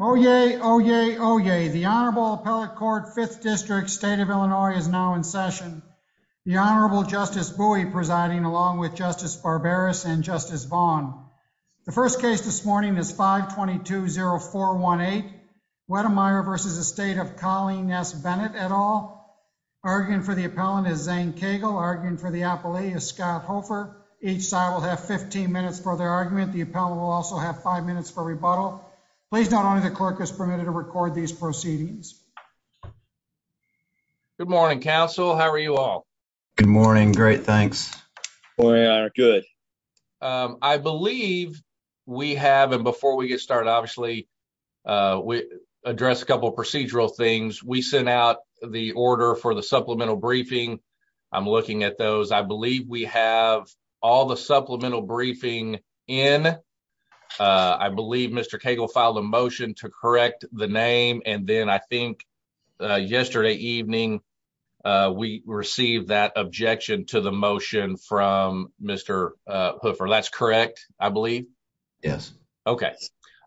Oyez, oyez, oyez. The Honorable Appellate Court, 5th District, State of Illinois is now in session. The Honorable Justice Bowie presiding along with Justice Barbaras and Justice Vaughn. The first case this morning is 522-0418. Wedemeyer v. Estate of Colleen S. Bennett et al. Arguing for the appellant is Zane Cagle. Arguing for the appellee is Scott Hofer. Each side will have 15 minutes for their argument. The appellant will also have 5 minutes for rebuttal. Please note only the clerk is permitted to record these proceedings. Good morning, counsel. How are you all? Good morning. Great. Thanks. Good. I believe we have and before we get started, obviously, we address a couple of procedural things. We sent out the order for the supplemental briefing. I'm looking at those. I believe we have all the supplemental briefing in. I believe Mr. Cagle filed a motion to correct the name and then I think yesterday evening, we received that objection to the motion from Mr. Hofer. That's correct, I believe? Yes. Okay.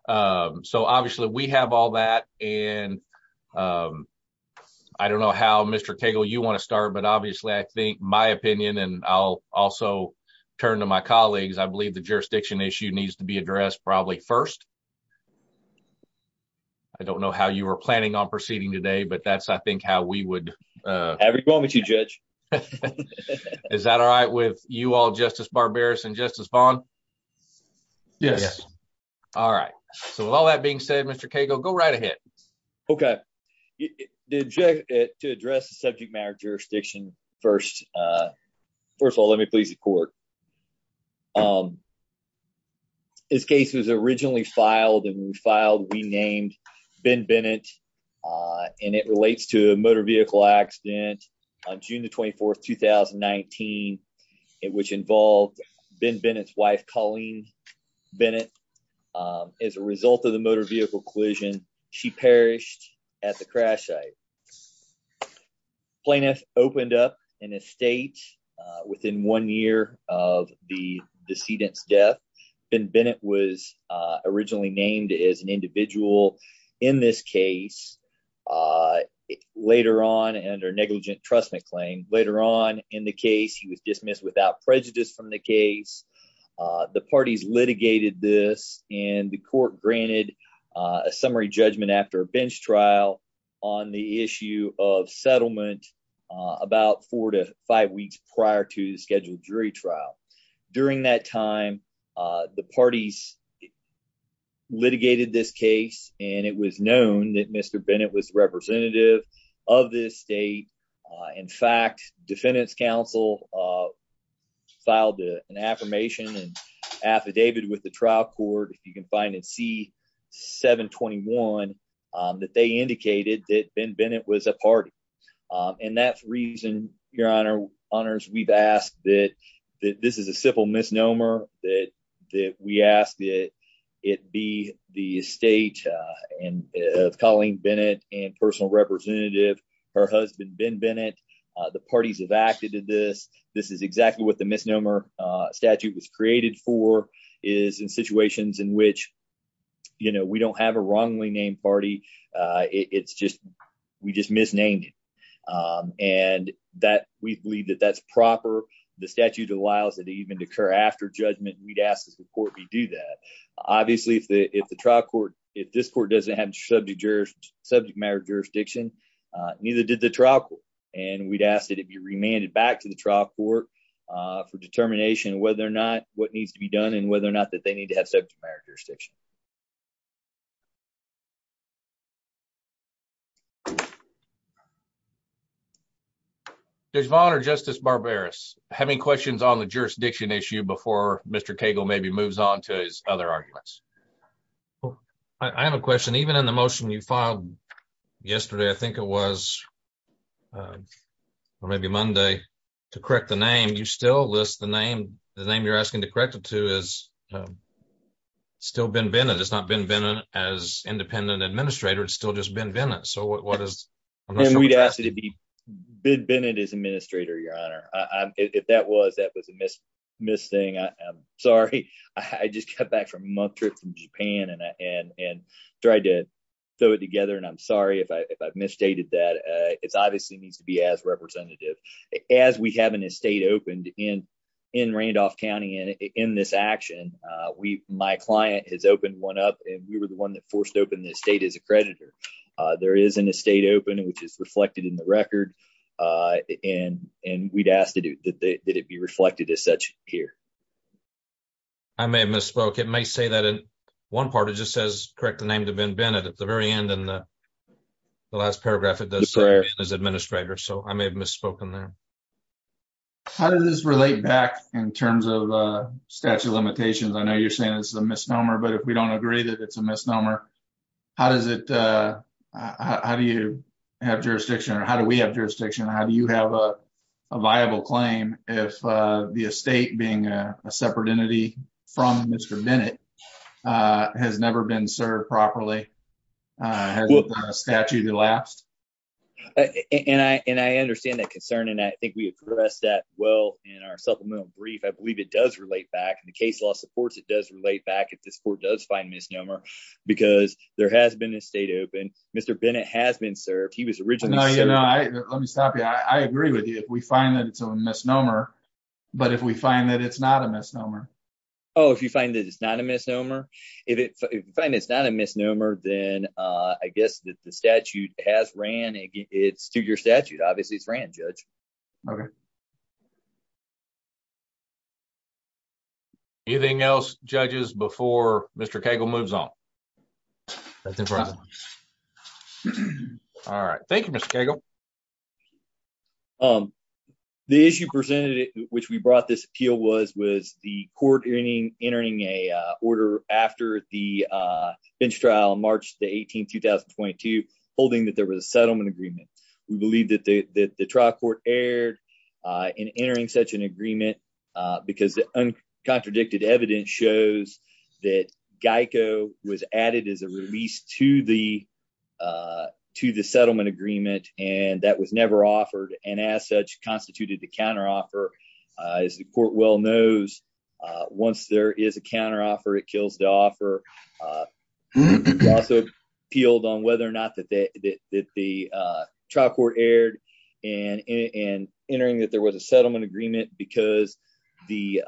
So, obviously, we have all that and I don't know how, Mr. Cagle, you want to start, but obviously, I think my opinion and I'll also turn to my colleagues. I believe the jurisdiction issue needs to be addressed probably first. I don't know how you were planning on proceeding today, but that's I think how we would... I agree with you, Judge. Is that all right with you all, Justice Barbaras and Yes. All right. So, with all that being said, Mr. Cagle, go right ahead. Okay. To address the subject matter jurisdiction first, first of all, let me please the court. This case was originally filed and when we filed, we named Ben Bennett and it relates to a motor Bennett. As a result of the motor vehicle collision, she perished at the crash site. Plaintiff opened up an estate within one year of the decedent's death. Ben Bennett was originally named as an individual in this case. Later on, under negligent trust claim, later on in the case, he was dismissed without prejudice from the case. The parties litigated this and the court granted a summary judgment after a bench trial on the issue of settlement about four to five weeks prior to the scheduled jury trial. During that time, the parties litigated this case and it was known that Mr. Bennett was representative of this state. In fact, defendant's counsel filed an affirmation and affidavit with the trial court. If you can find it, see 7 21 that they indicated that Ben Bennett was a party and that's reason your honor honors. We've asked that this is a simple misnomer that we ask that it be the estate of Colleen Bennett and personal representative, her husband Ben Bennett. The parties have acted to this. This is exactly what the misnomer statute was created for is in situations in which, you know, we don't have a wrongly named party. It's just, we just misnamed it and that we believe that that's proper. The statute allows that even occur after judgment. We'd ask the court to do that. Obviously, if the, if the trial court, if this court doesn't have subject jurors, subject matter jurisdiction, neither did the trial court and we'd ask that it be remanded back to the trial court for determination whether or not what needs to be done and whether or not that they need to have subject matter jurisdiction. Judge Vaughn or Justice Barberis, have any questions on the jurisdiction issue before Mr. Cagle maybe moves on to his other arguments? I have a question. Even in the motion you filed yesterday, I think it was or maybe Monday to correct the name, you still list the name. The name you're asking to correct it to is still Ben Bennett. It's not Ben Bennett as independent administrator. It's still just Ben Bennett. We'd ask it to be Ben Bennett as administrator, your honor. If that was, that was a missed thing. I'm sorry. I just got back from a month trip from Japan and tried to throw it together and I'm sorry if I've misstated that. It obviously needs to be as representative. As we have an estate opened in Randolph County and in this action, my client has creditor. There is an estate open which is reflected in the record and we'd ask that it be reflected as such here. I may have misspoke. It may say that in one part it just says correct the name to Ben Bennett at the very end and the last paragraph it does say Ben as administrator, so I may have misspoken there. How does this relate back in terms of statute of limitations? I know you're saying this is a misnomer, but if we don't agree that it's a misnomer, how does it, how do you have jurisdiction or how do we have jurisdiction? How do you have a viable claim if the estate being a separate entity from Mr. Bennett has never been served properly? Has the statute elapsed? And I understand that concern and I think we addressed that well in our supplemental brief. I believe it does relate back and the case law supports it does because there has been an estate open. Mr. Bennett has been served. He was originally. No, you know, let me stop you. I agree with you. If we find that it's a misnomer, but if we find that it's not a misnomer. Oh, if you find that it's not a misnomer, if you find it's not a misnomer, then I guess that the statute has ran. It's to your statute. Obviously it's ran judge. Okay. Anything else judges before Mr. Cagle moves on? All right. Thank you, Mr. Cagle. The issue presented, which we brought this appeal was, was the court entering a order after the bench trial in March the 18th, 2022, holding that there was a settlement agreement. We believe that the trial court erred in entering such an agreement because the uncontradicted evidence shows that Geico was added as a release to the, to the settlement agreement. And that was never offered. And as such constituted the counteroffer is the court well knows once there is a counteroffer, it kills the offer. We also appealed on whether or not that the trial court erred in entering that there was a settlement agreement because the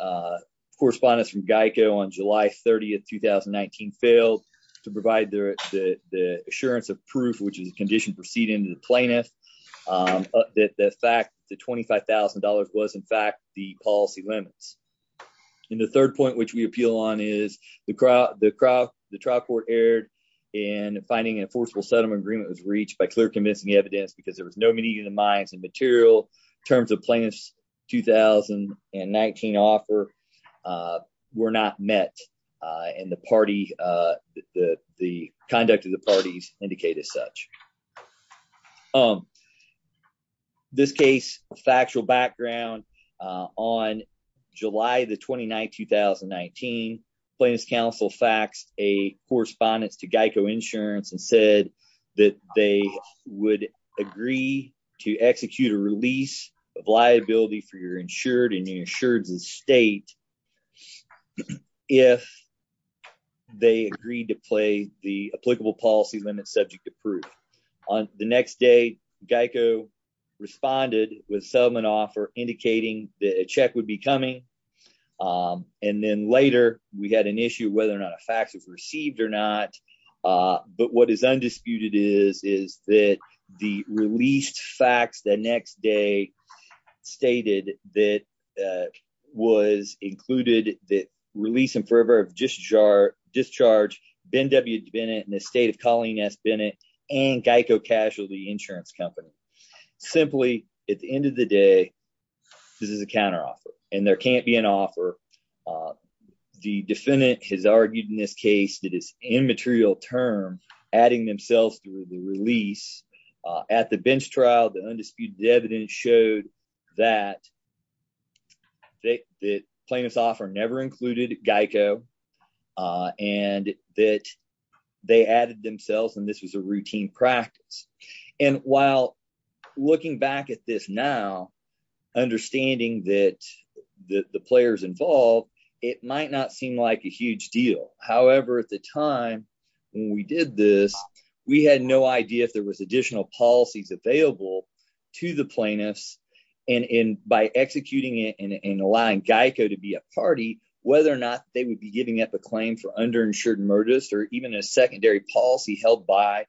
correspondence from Geico on July 30th, 2019 failed to provide the assurance of proof, which is a condition proceeding to the plaintiff that the fact the $25,000 was in fact the policy limits. And the third point, which we appeal on is the trial court erred in finding an enforceable settlement agreement was reached by clear convincing evidence because there was no meeting of the minds and material terms of plaintiff's 2019 offer were not met. And the party, the conduct of the parties indicate as such. Um, this case factual background, uh, on July the 29th, 2019 plaintiff's counsel faxed a correspondence to Geico insurance and said that they would agree to execute a release of liability for your insured and your insured's estate. If they agreed to play the applicable policy limit subject to proof on the next day, Geico responded with settlement offer indicating that a check would be coming. Um, and then later we had an issue whether or not a fax was received or not. Uh, but what is undisputed is, is that the released fax the next day stated that was included that release in favor of discharge, discharge Ben W. Bennett and the estate of Colleen S. Bennett and Geico casualty insurance company. Simply at the end of the day, this is a counteroffer and there can't be an offer. Uh, the defendant has argued in this case that is immaterial term, adding themselves through the release, uh, at the bench trial, the undisputed evidence showed that they, that plaintiff's offer never included Geico, uh, and that they added themselves and this was a routine practice. And while looking back at this now, understanding that the players involved, it might not seem like a huge deal. However, at the time when we did this, we had no idea if there was additional policies available to the plaintiffs and in by executing it and allowing Geico to be a party, whether or not they would be giving up a claim for underinsured and murderist or even a secondary policy held by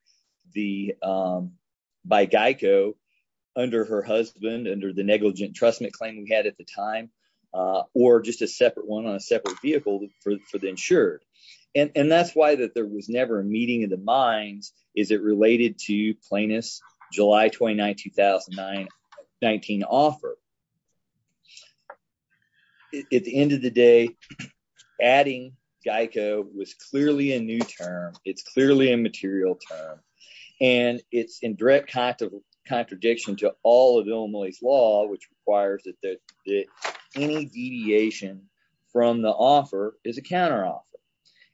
the, um, by Geico under her husband, under the negligent trustment claim we had at the time, uh, or just a separate one on a separate vehicle for the And, and that's why that there was never a meeting of the minds, is it related to plaintiff's July 29, 2009, 19 offer. At the end of the day, adding Geico was clearly a new term. It's clearly a material term and it's in direct contradiction to all of Illinois' law, which requires that, that any deviation from the offer is a counteroffer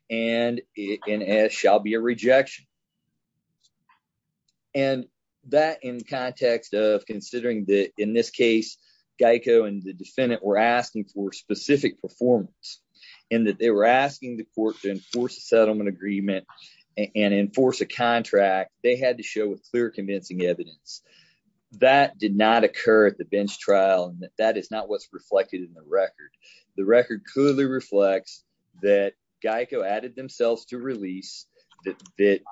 and it shall be a rejection. And that in context of considering that in this case, Geico and the defendant were asking for specific performance and that they were asking the court to enforce a settlement agreement and enforce a contract. They had to show with clear convincing evidence that did not occur at the bench trial and that that is not what's reflected in the record. The record clearly reflects that Geico added themselves to release, that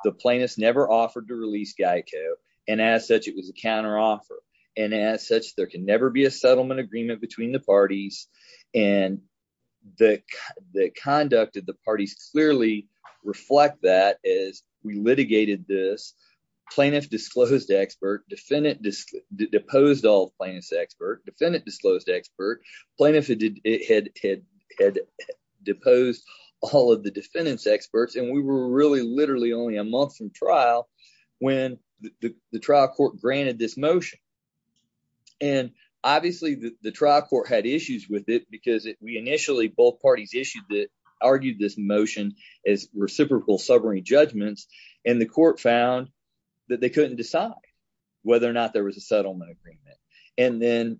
the plaintiffs never offered to release Geico and as such, it was a counteroffer. And as such, there can never be a settlement agreement between the parties and the conduct of the parties clearly reflect that as we litigated this, plaintiff disclosed expert, defendant deposed all plaintiff's expert, defendant disclosed expert, plaintiff had deposed all of the defendant's experts, and we were really literally only a month from trial when the trial court granted this motion. And obviously, the trial court had issues with it because we initially both parties issued it, as reciprocal summary judgments, and the court found that they couldn't decide whether or not there was a settlement agreement. And then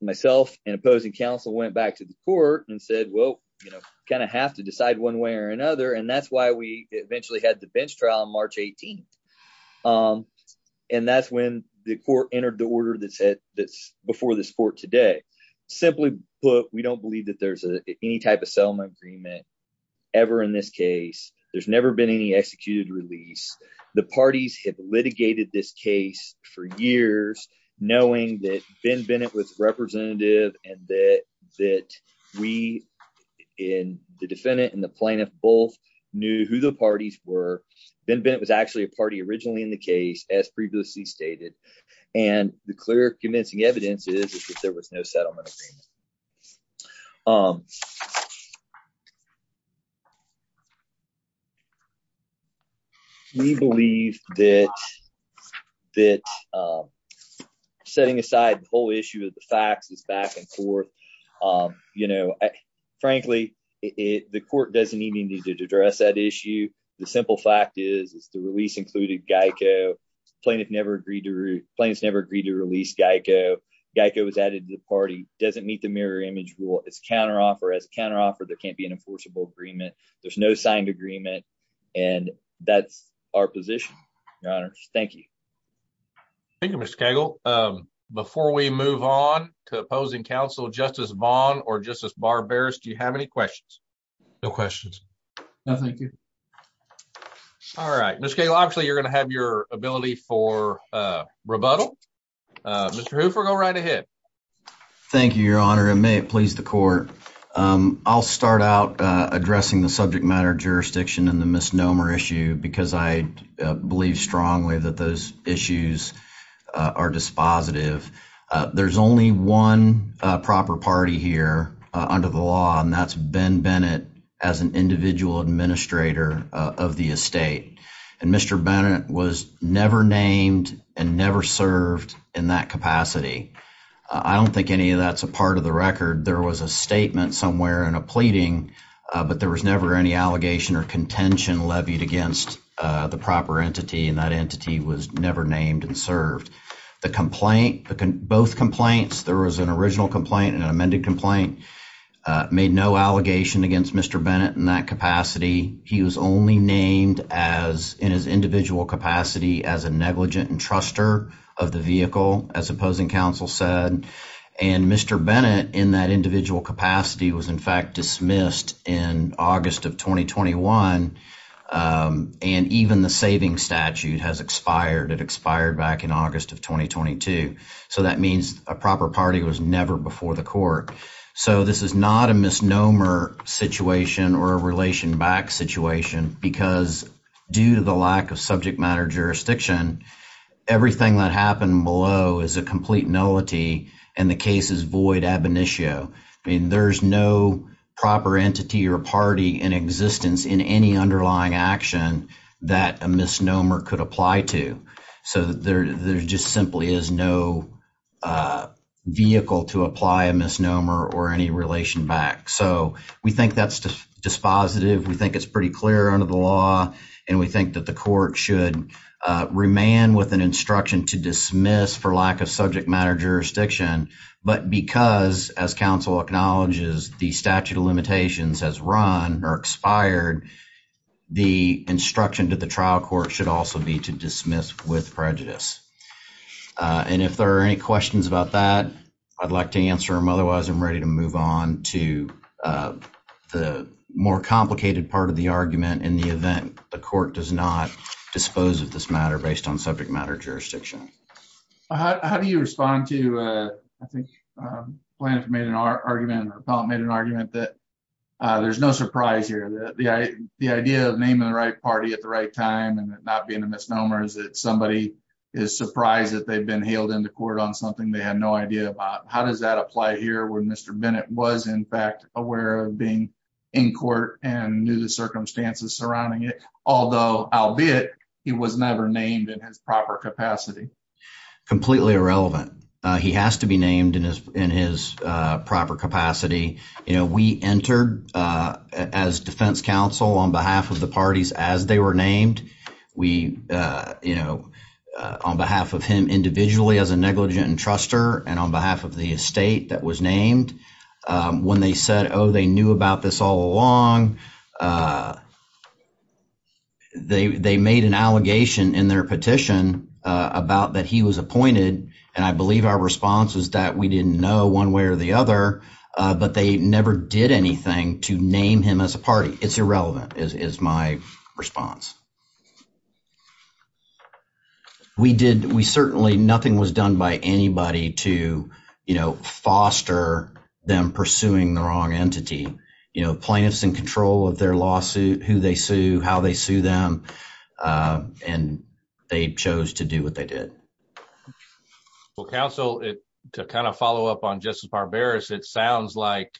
myself and opposing counsel went back to the court and said, well, you know, kind of have to decide one way or another. And that's why we eventually had the bench trial on March 18th. And that's when the court entered the order that's before this today. Simply put, we don't believe that there's any type of settlement agreement ever in this case. There's never been any executed release. The parties have litigated this case for years, knowing that Ben Bennett was representative and that we in the defendant and the plaintiff both knew who the parties were. Ben Bennett was actually a party originally in the case, as previously stated. And the clear convincing evidence is that there was no settlement agreement. We believe that setting aside the whole issue of the facts is back in court. You know, frankly, the court doesn't even need to address that issue. The simple fact is, the release included GEICO. The plaintiff never agreed to release GEICO. GEICO was added to the party. It doesn't meet the mirror image rule. It's a counteroffer. As a counteroffer, there can't be an enforceable agreement. There's no signed agreement. And that's our position, your honors. Thank you. Thank you, Mr. Cagle. Before we move on to opposing counsel, Justice Vaughn or Justice Barberis, do you have any questions? No questions. No, thank you. All right, Mr. Cagle, obviously, you're going to have your ability for rebuttal. Mr. Hooper, go right ahead. Thank you, your honor, and may it please the court. I'll start out addressing the subject matter jurisdiction and the misnomer issue because I believe strongly that those issues are dispositive. There's only one proper party here under the law, and that's Ben Bennett as an individual administrator of the estate. And Mr. Bennett was never named and never served in that capacity. I don't think any of that's a part of the record. There was a statement somewhere and a pleading, but there was never any allegation or contention levied against the proper entity, and that entity was never named and served. The complaint, both complaints, there was an original complaint and an amended complaint, made no allegation against Mr. Bennett in that capacity. He was only named in his individual capacity as a negligent entruster of the vehicle, as opposing counsel said. And Mr. Bennett in that individual capacity was, in fact, dismissed in August of 2021, and even the saving statute has expired. It expired back in August of 2022. So that means a proper party was never before the court. So this is not a misnomer situation or a relation back situation because due to the lack of subject matter jurisdiction, everything that happened below is a complete nullity, and the case is void ab initio. I mean, there's no proper entity or party in existence in any underlying action that a misnomer could apply to. So there just simply is no vehicle to apply a misnomer or any relation back. So we think that's dispositive. We think it's pretty clear under the law, and we think that the court should remand with an instruction to dismiss for lack of subject matter jurisdiction, but because, as counsel acknowledges, the statute of limitations has run or expired, the instruction to the trial court should also be to dismiss with prejudice. And if there are any questions about that, I'd like to answer them. Otherwise, I'm ready to move on to the more complicated part of the argument in the event the court does not dispose of this matter based on I think Blanton made an argument, or Pellant made an argument, that there's no surprise here. The idea of naming the right party at the right time and it not being a misnomer is that somebody is surprised that they've been hailed into court on something they had no idea about. How does that apply here when Mr. Bennett was, in fact, aware of being in court and knew the circumstances surrounding it, although, albeit, he was never named in his proper capacity? Completely irrelevant. He has to be named in his proper capacity. You know, we entered as defense counsel on behalf of the parties as they were named. We, you know, on behalf of him individually as a negligent entrustor and on behalf of the estate that was named, when they said, oh, they knew about this all along, they made an allegation in their petition about that he was appointed, and I believe our response was that we didn't know one way or the other, but they never did anything to name him as a party. It's irrelevant, is my response. We did, we certainly, nothing was done by anybody to, you know, foster them pursuing the wrong entity. You know, plaintiffs in control of their lawsuit, who they sue, how they sue them, and they chose to do what they did. Well, counsel, to kind of follow up on Justice Barberis, it sounds like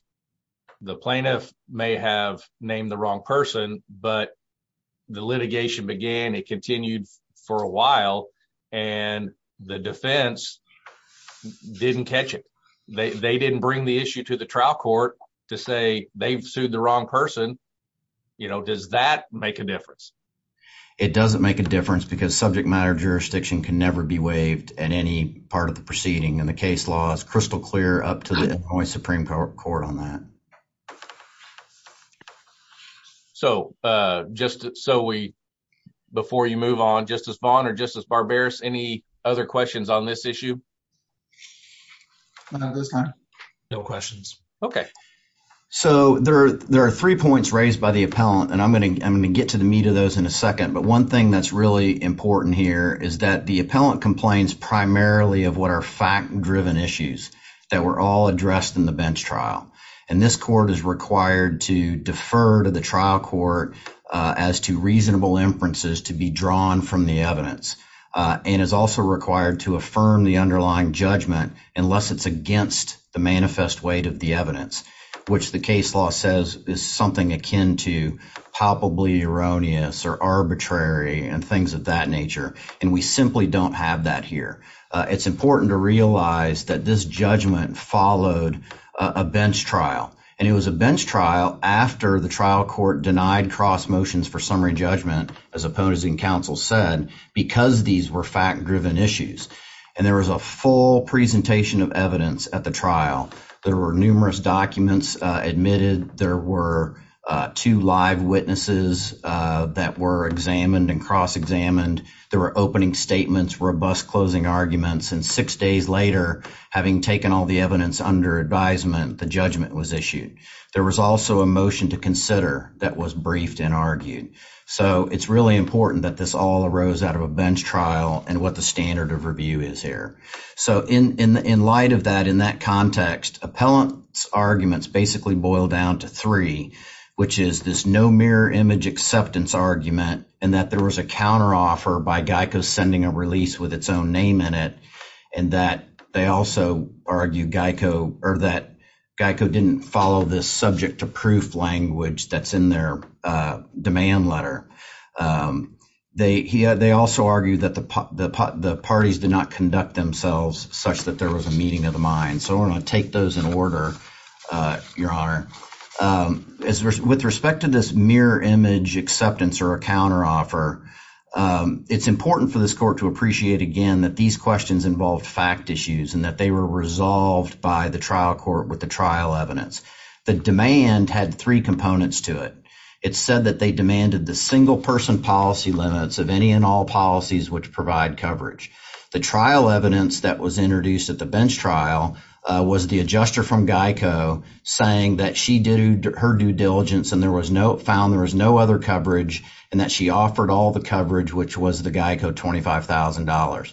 the plaintiff may have named the wrong person, but the litigation began, it continued for a while, and the defense didn't catch it. They didn't bring the issue to the trial court to say they've sued the wrong person. You know, does that make a difference? It doesn't make a difference because subject matter jurisdiction can never be waived in any part of the proceeding, and the case law is crystal clear up to the Illinois Supreme Court on that. So, just so we, before you move on, Justice Vaughn or Justice Barberis, any other questions on this issue? No, this time, no questions. Okay. So, there are three points raised by the appellant, and I'm going to get to the meat of those in a second, but one thing that's really important here is that the appellant complains primarily of what are fact-driven issues that were all addressed in the bench trial, and this court is required to defer to the trial court as to reasonable inferences to be drawn from the evidence and is also required to affirm the underlying judgment unless it's against the manifest weight of the evidence, which the case law says is something akin to palpably erroneous or arbitrary and things of that nature, and we simply don't have that here. It's important to realize that this judgment followed a bench trial, and it was a bench trial after the trial court denied cross motions for summary judgment, as opponents in counsel said, because these were fact-driven issues, and there was a full presentation of evidence at the trial. There were numerous documents admitted. There were two live witnesses that were examined and cross-examined. There were opening statements robust closing arguments, and six days later, having taken all the evidence under advisement, the judgment was issued. There was also a motion to consider that was briefed and argued, so it's really important that this all arose out of a bench trial and what the standard of review is here. So in light of that, in that context, appellant's arguments basically boil down to three, which is this no mirror image acceptance argument and that there was a with its own name in it, and that they also argued Geico or that Geico didn't follow this subject-to-proof language that's in their demand letter. They also argued that the parties did not conduct themselves such that there was a meeting of the mind, so I'm going to take those in order, Your Honor. With respect to this mirror image acceptance or a counteroffer, it's important for this court to appreciate again that these questions involved fact issues and that they were resolved by the trial court with the trial evidence. The demand had three components to it. It said that they demanded the single-person policy limits of any and all policies which provide coverage. The trial evidence that was introduced at the bench trial was the adjuster from Geico saying that she did her due diligence and there was no found there was no other coverage and that she offered all the coverage, which was the Geico $25,000.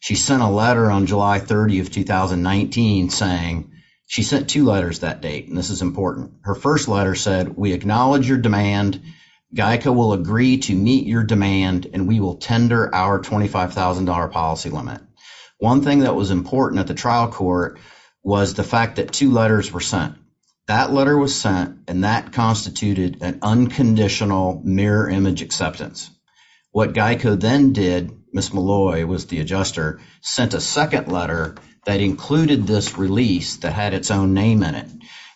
She sent a letter on July 30, 2019, saying she sent two letters that date, and this is important. Her first letter said, we acknowledge your demand. Geico will agree to meet your demand and we will tender our $25,000 policy limit. One thing that was important at the trial court was the fact that two letters were acceptance. What Geico then did, Ms. Malloy was the adjuster, sent a second letter that included this release that had its own name in it,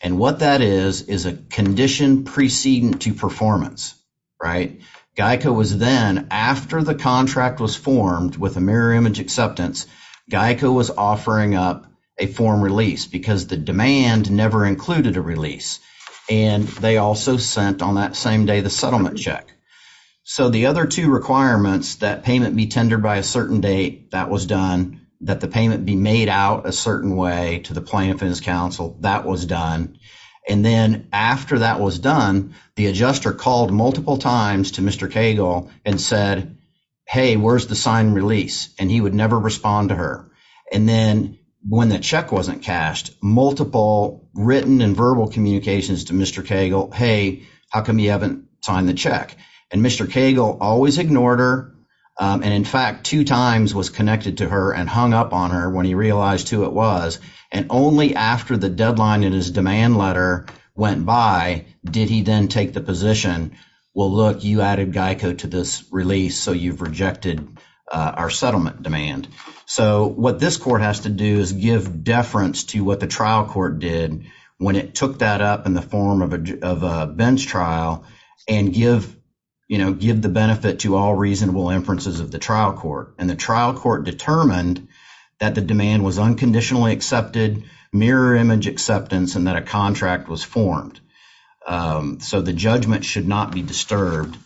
and what that is is a condition preceding to performance, right? Geico was then, after the contract was formed with a mirror image acceptance, Geico was offering up a form release because the demand never included a release, and they also sent on that same day the settlement check. So, the other two requirements, that payment be tendered by a certain date, that was done, that the payment be made out a certain way to the plaintiff and his counsel, that was done, and then after that was done, the adjuster called multiple times to Mr. Cagle and said, hey, where's the sign release? And he would never respond to her. And then when the check wasn't cashed, multiple written and verbal communications to Mr. Cagle, hey, how come you haven't signed the check? And Mr. Cagle always ignored her, and in fact, two times was connected to her and hung up on her when he realized who it was, and only after the deadline in his demand letter went by did he then take the position, well, look, you added Geico to this release, so you've rejected our settlement demand. So, what this court has to do is give deference to what the trial court did when it took that up in the form of a bench trial and give, you know, give the benefit to all reasonable inferences of the trial court, and the trial court determined that the demand was unconditionally accepted, mirror image acceptance, and that a contract was formed. So, the judgment should not be disturbed.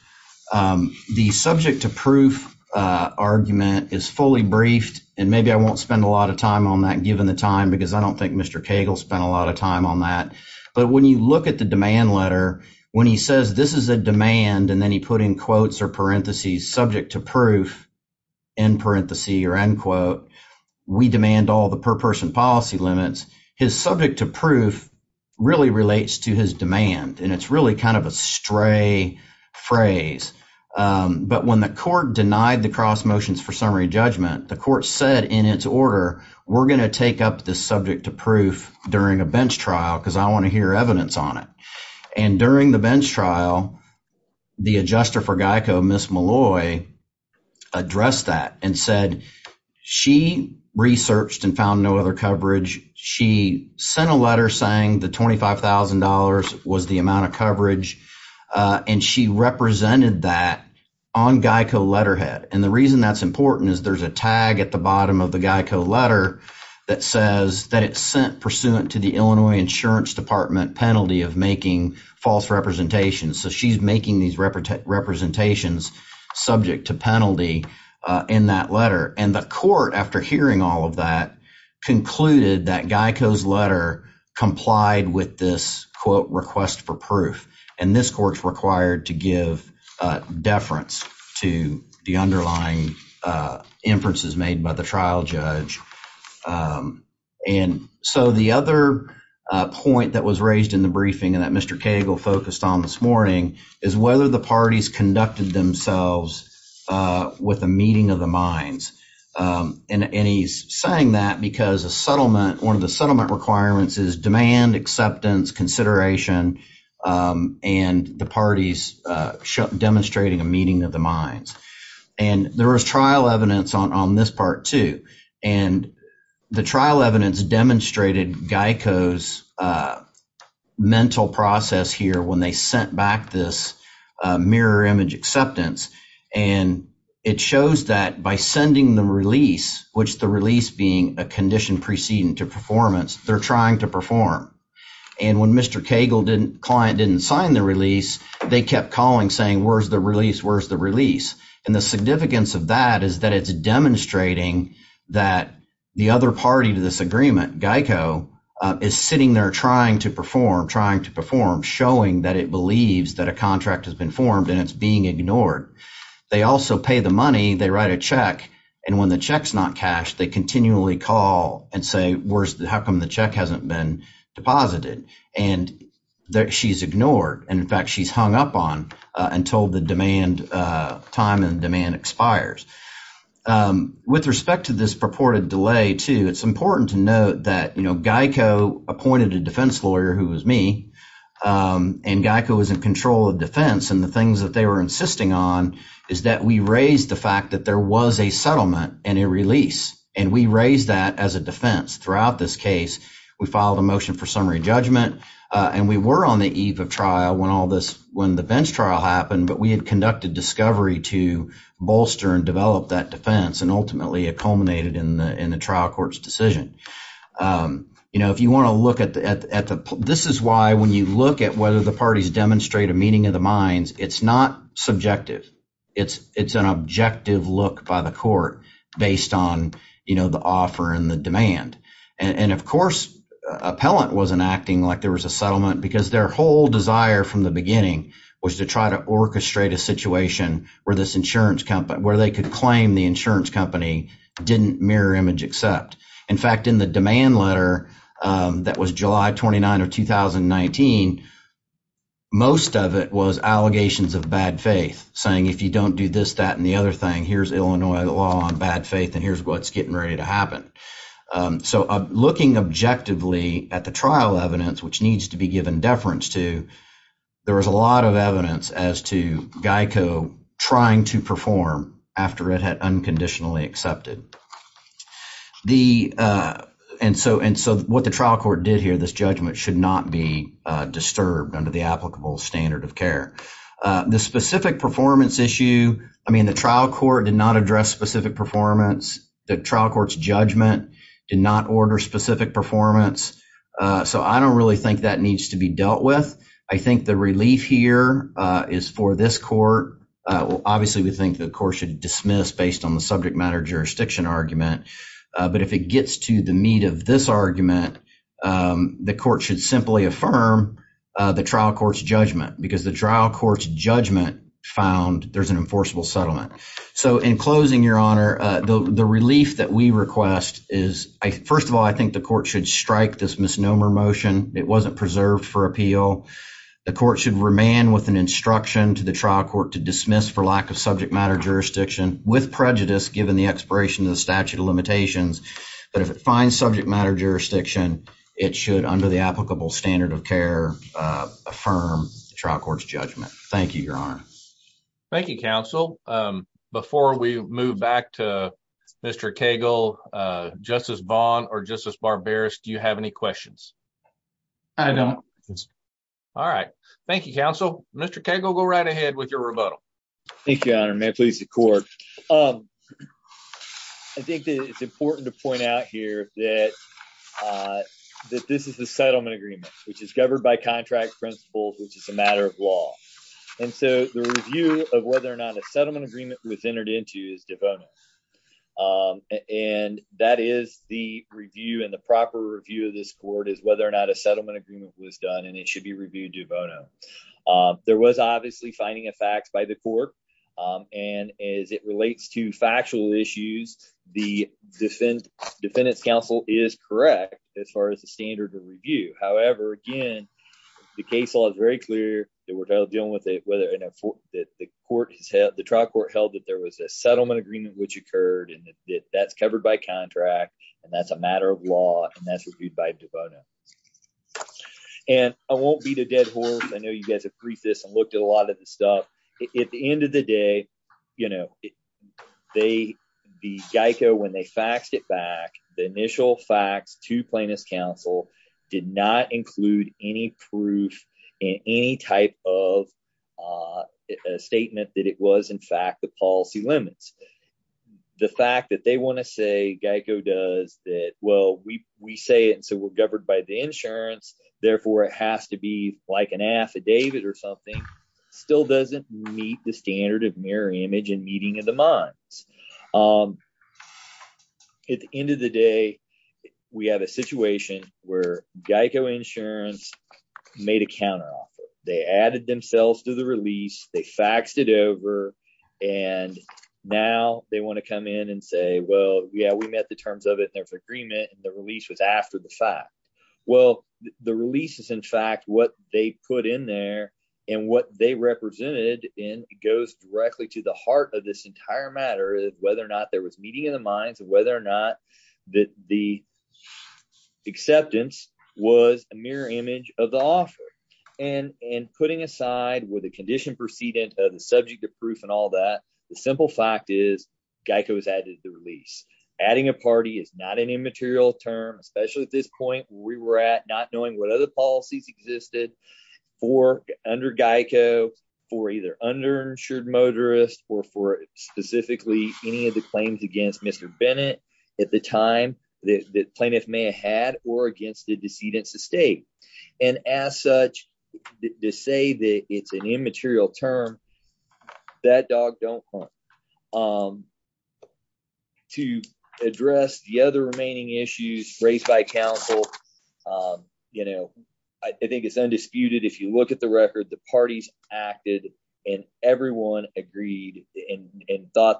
The subject to proof argument is fully briefed, and maybe I won't spend a lot of time on that given the time because I don't think Mr. Cagle spent a lot of time on that, but when you look at the demand letter, when he says this is a demand and then he put in quotes or parentheses subject to proof in parentheses or end quote, we demand all the per person policy limits, his subject to proof really relates to his demand, and it's really kind of a stray phrase, but when the court denied the cross motions for summary judgment, the court said in its order, we're going to take up this subject to proof during a bench trial because I want to hear you. So, the court in Illinois addressed that and said she researched and found no other coverage. She sent a letter saying the $25,000 was the amount of coverage, and she represented that on GEICO letterhead, and the reason that's important is there's a tag at the bottom of the GEICO letter that says that it's sent pursuant to the Illinois Insurance Department penalty of making false representations. So, she's making these representations subject to penalty in that letter, and the court, after hearing all of that, concluded that GEICO's letter complied with this quote request for proof, and this court's required to give deference to the underlying inferences made by the trial judge, and so, the other point that was raised in the briefing and that Mr. Cagle focused on this morning is whether the parties conducted themselves with a meeting of the minds, and he's saying that because a settlement, one of the settlement requirements is demand, acceptance, consideration, and the parties demonstrating a meeting of the minds, and there was trial evidence on this part too, and the trial evidence demonstrated GEICO's mental process here when they sent back this mirror image acceptance, and it shows that by sending the release, which the release being a condition preceding to performance, they're trying to perform, and when Mr. Cagle didn't, client didn't sign the release, they kept calling saying where's the release, where's the release, and the significance of that is that it's demonstrating that the other party to this agreement, GEICO, is sitting there trying to perform, trying to perform, showing that it believes that a contract has been formed, and it's being ignored. They also pay the money, they write a check, and when the check's not cashed, they continually call and say where's, how come the check hasn't been deposited, and that she's ignored, and in fact, she's hung up on until the demand, time and demand expires. With respect to this purported delay too, it's important to note that, you know, GEICO appointed a defense lawyer who was me, and GEICO was in control of defense, and the things that they were insisting on is that we raised the fact that there was a settlement and a release, and we raised that as a defense throughout this case. We filed a motion for summary judgment, and we were on the but we had conducted discovery to bolster and develop that defense, and ultimately, it culminated in the trial court's decision. You know, if you want to look at the, this is why, when you look at whether the parties demonstrate a meeting of the minds, it's not subjective. It's an objective look by the court based on, you know, the offer and the demand, and of course, appellant wasn't acting like there was a settlement because their whole desire from the beginning was to try to orchestrate a situation where this insurance company, where they could claim the insurance company didn't mirror image except. In fact, in the demand letter that was July 29 of 2019, most of it was allegations of bad faith, saying if you don't do this, that, and the other thing, here's Illinois law on bad faith, and here's what's getting ready to happen. So, looking objectively at the trial evidence, which needs to be given deference to, there was a lot of evidence as to GEICO trying to perform after it had unconditionally accepted. And so, what the trial court did here, this judgment should not be disturbed under the applicable standard of care. The specific performance issue, I mean, the trial court did not address specific performance. The trial court's judgment did not order specific performance, so I don't really think that needs to be dealt with. I think the relief here is for this court. Obviously, we think the court should dismiss based on the subject matter jurisdiction argument, but if it gets to the meat of this argument, the court should simply affirm the trial court's judgment because the trial court's judgment found there's an enforceable settlement. So, in closing, your honor, the relief that we request is, first of all, I think the court should strike this misnomer motion. It wasn't preserved for appeal. The court should remain with an instruction to the trial court to dismiss for lack of subject matter jurisdiction with prejudice, given the expiration of the statute of limitations, but if it finds subject matter jurisdiction, it should, under the applicable standard of care, affirm the trial court's judgment. Thank you, your honor. Thank you, counsel. Before we move back to Mr. Cagle, Justice Vaughn or Justice Barberis, do you have any questions? I don't. All right. Thank you, counsel. Mr. Cagle, go right ahead with your rebuttal. Thank you, your honor. May it please the court. I think it's important to point out here that this is the settlement agreement, which is governed by contract principles, which is a matter of law, and so the review of whether or not a settlement agreement was entered into is de bono, and that is the review, and the proper review of this court is whether or not a settlement agreement was done, and it should be reviewed de bono. There was obviously finding of facts by the court, and as it relates to factual issues, the defendant's counsel is correct as far as the standard of review. However, again, the case law is very clear that we're dealing with it, whether the trial court held that there was a settlement agreement which occurred, and that's covered by contract, and that's a matter of law, and that's reviewed by de bono, and I won't beat a dead horse. I know you guys have briefed this and looked at a lot of the stuff. At the end of the day, you know, the GEICO, when they faxed it back, the initial fax to plaintiff's counsel did not include any proof in any type of statement that it was, in fact, the policy limits. The fact that they want to say GEICO does that, well, we say it, and so we're governed by the insurance, therefore it has to be like an affidavit or something, still doesn't meet the standard of mirror image and meeting of the minds. At the end of the day, we have a situation where GEICO insurance made a counteroffer. They added themselves to the release, they faxed it over, and now they want to come in and say, well, yeah, we met the terms of it, there's agreement, and the release was after the fact. Well, the release is, in fact, what they put in there and what they represented, and it goes directly to the heart of this entire matter, whether or not there was meeting of the minds, whether or not that the acceptance was a mirror image of the offer, and putting aside with a condition precedent of the subject of proof and all that, the simple fact is GEICO has added the release. Adding a party is not an immaterial term, especially at this point where we were at, not knowing what other policies existed for under GEICO, for either underinsured motorists or for specifically any of the claims against Mr. Bennett at the time the plaintiff may have had or against the decedent's estate. And as such, to say that it's an immaterial term, that dog don't clump. To address the other remaining issues raised by counsel, you know, I think it's thought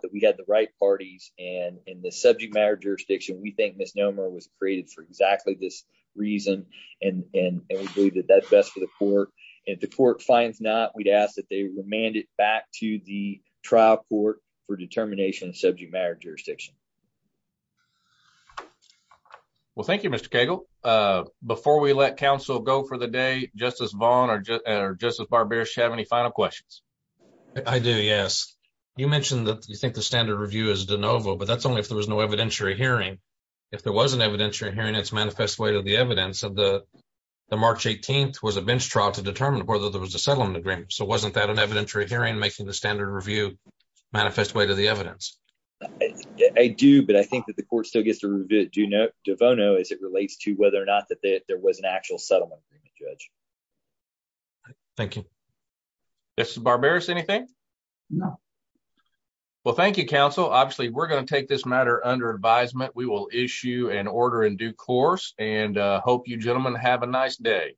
that we had the right parties, and in the subject matter jurisdiction, we think misnomer was created for exactly this reason, and we believe that that's best for the court. If the court finds not, we'd ask that they remand it back to the trial court for determination of subject matter jurisdiction. Well, thank you, Mr. Cagle. Before we let counsel go for the day, Justice think the standard review is de novo, but that's only if there was no evidentiary hearing. If there was an evidentiary hearing, it's manifest way to the evidence of the March 18th was a bench trial to determine whether there was a settlement agreement. So, wasn't that an evidentiary hearing making the standard review manifest way to the evidence? I do, but I think that the court still gets to review it devono as it relates to whether or not that there was an actual settlement agreement, Judge. Thank you. Justice Barberis, anything? No. Well, thank you, counsel. Obviously, we're going to take this matter under advisement. We will issue an order in due course, and hope you gentlemen have a nice day.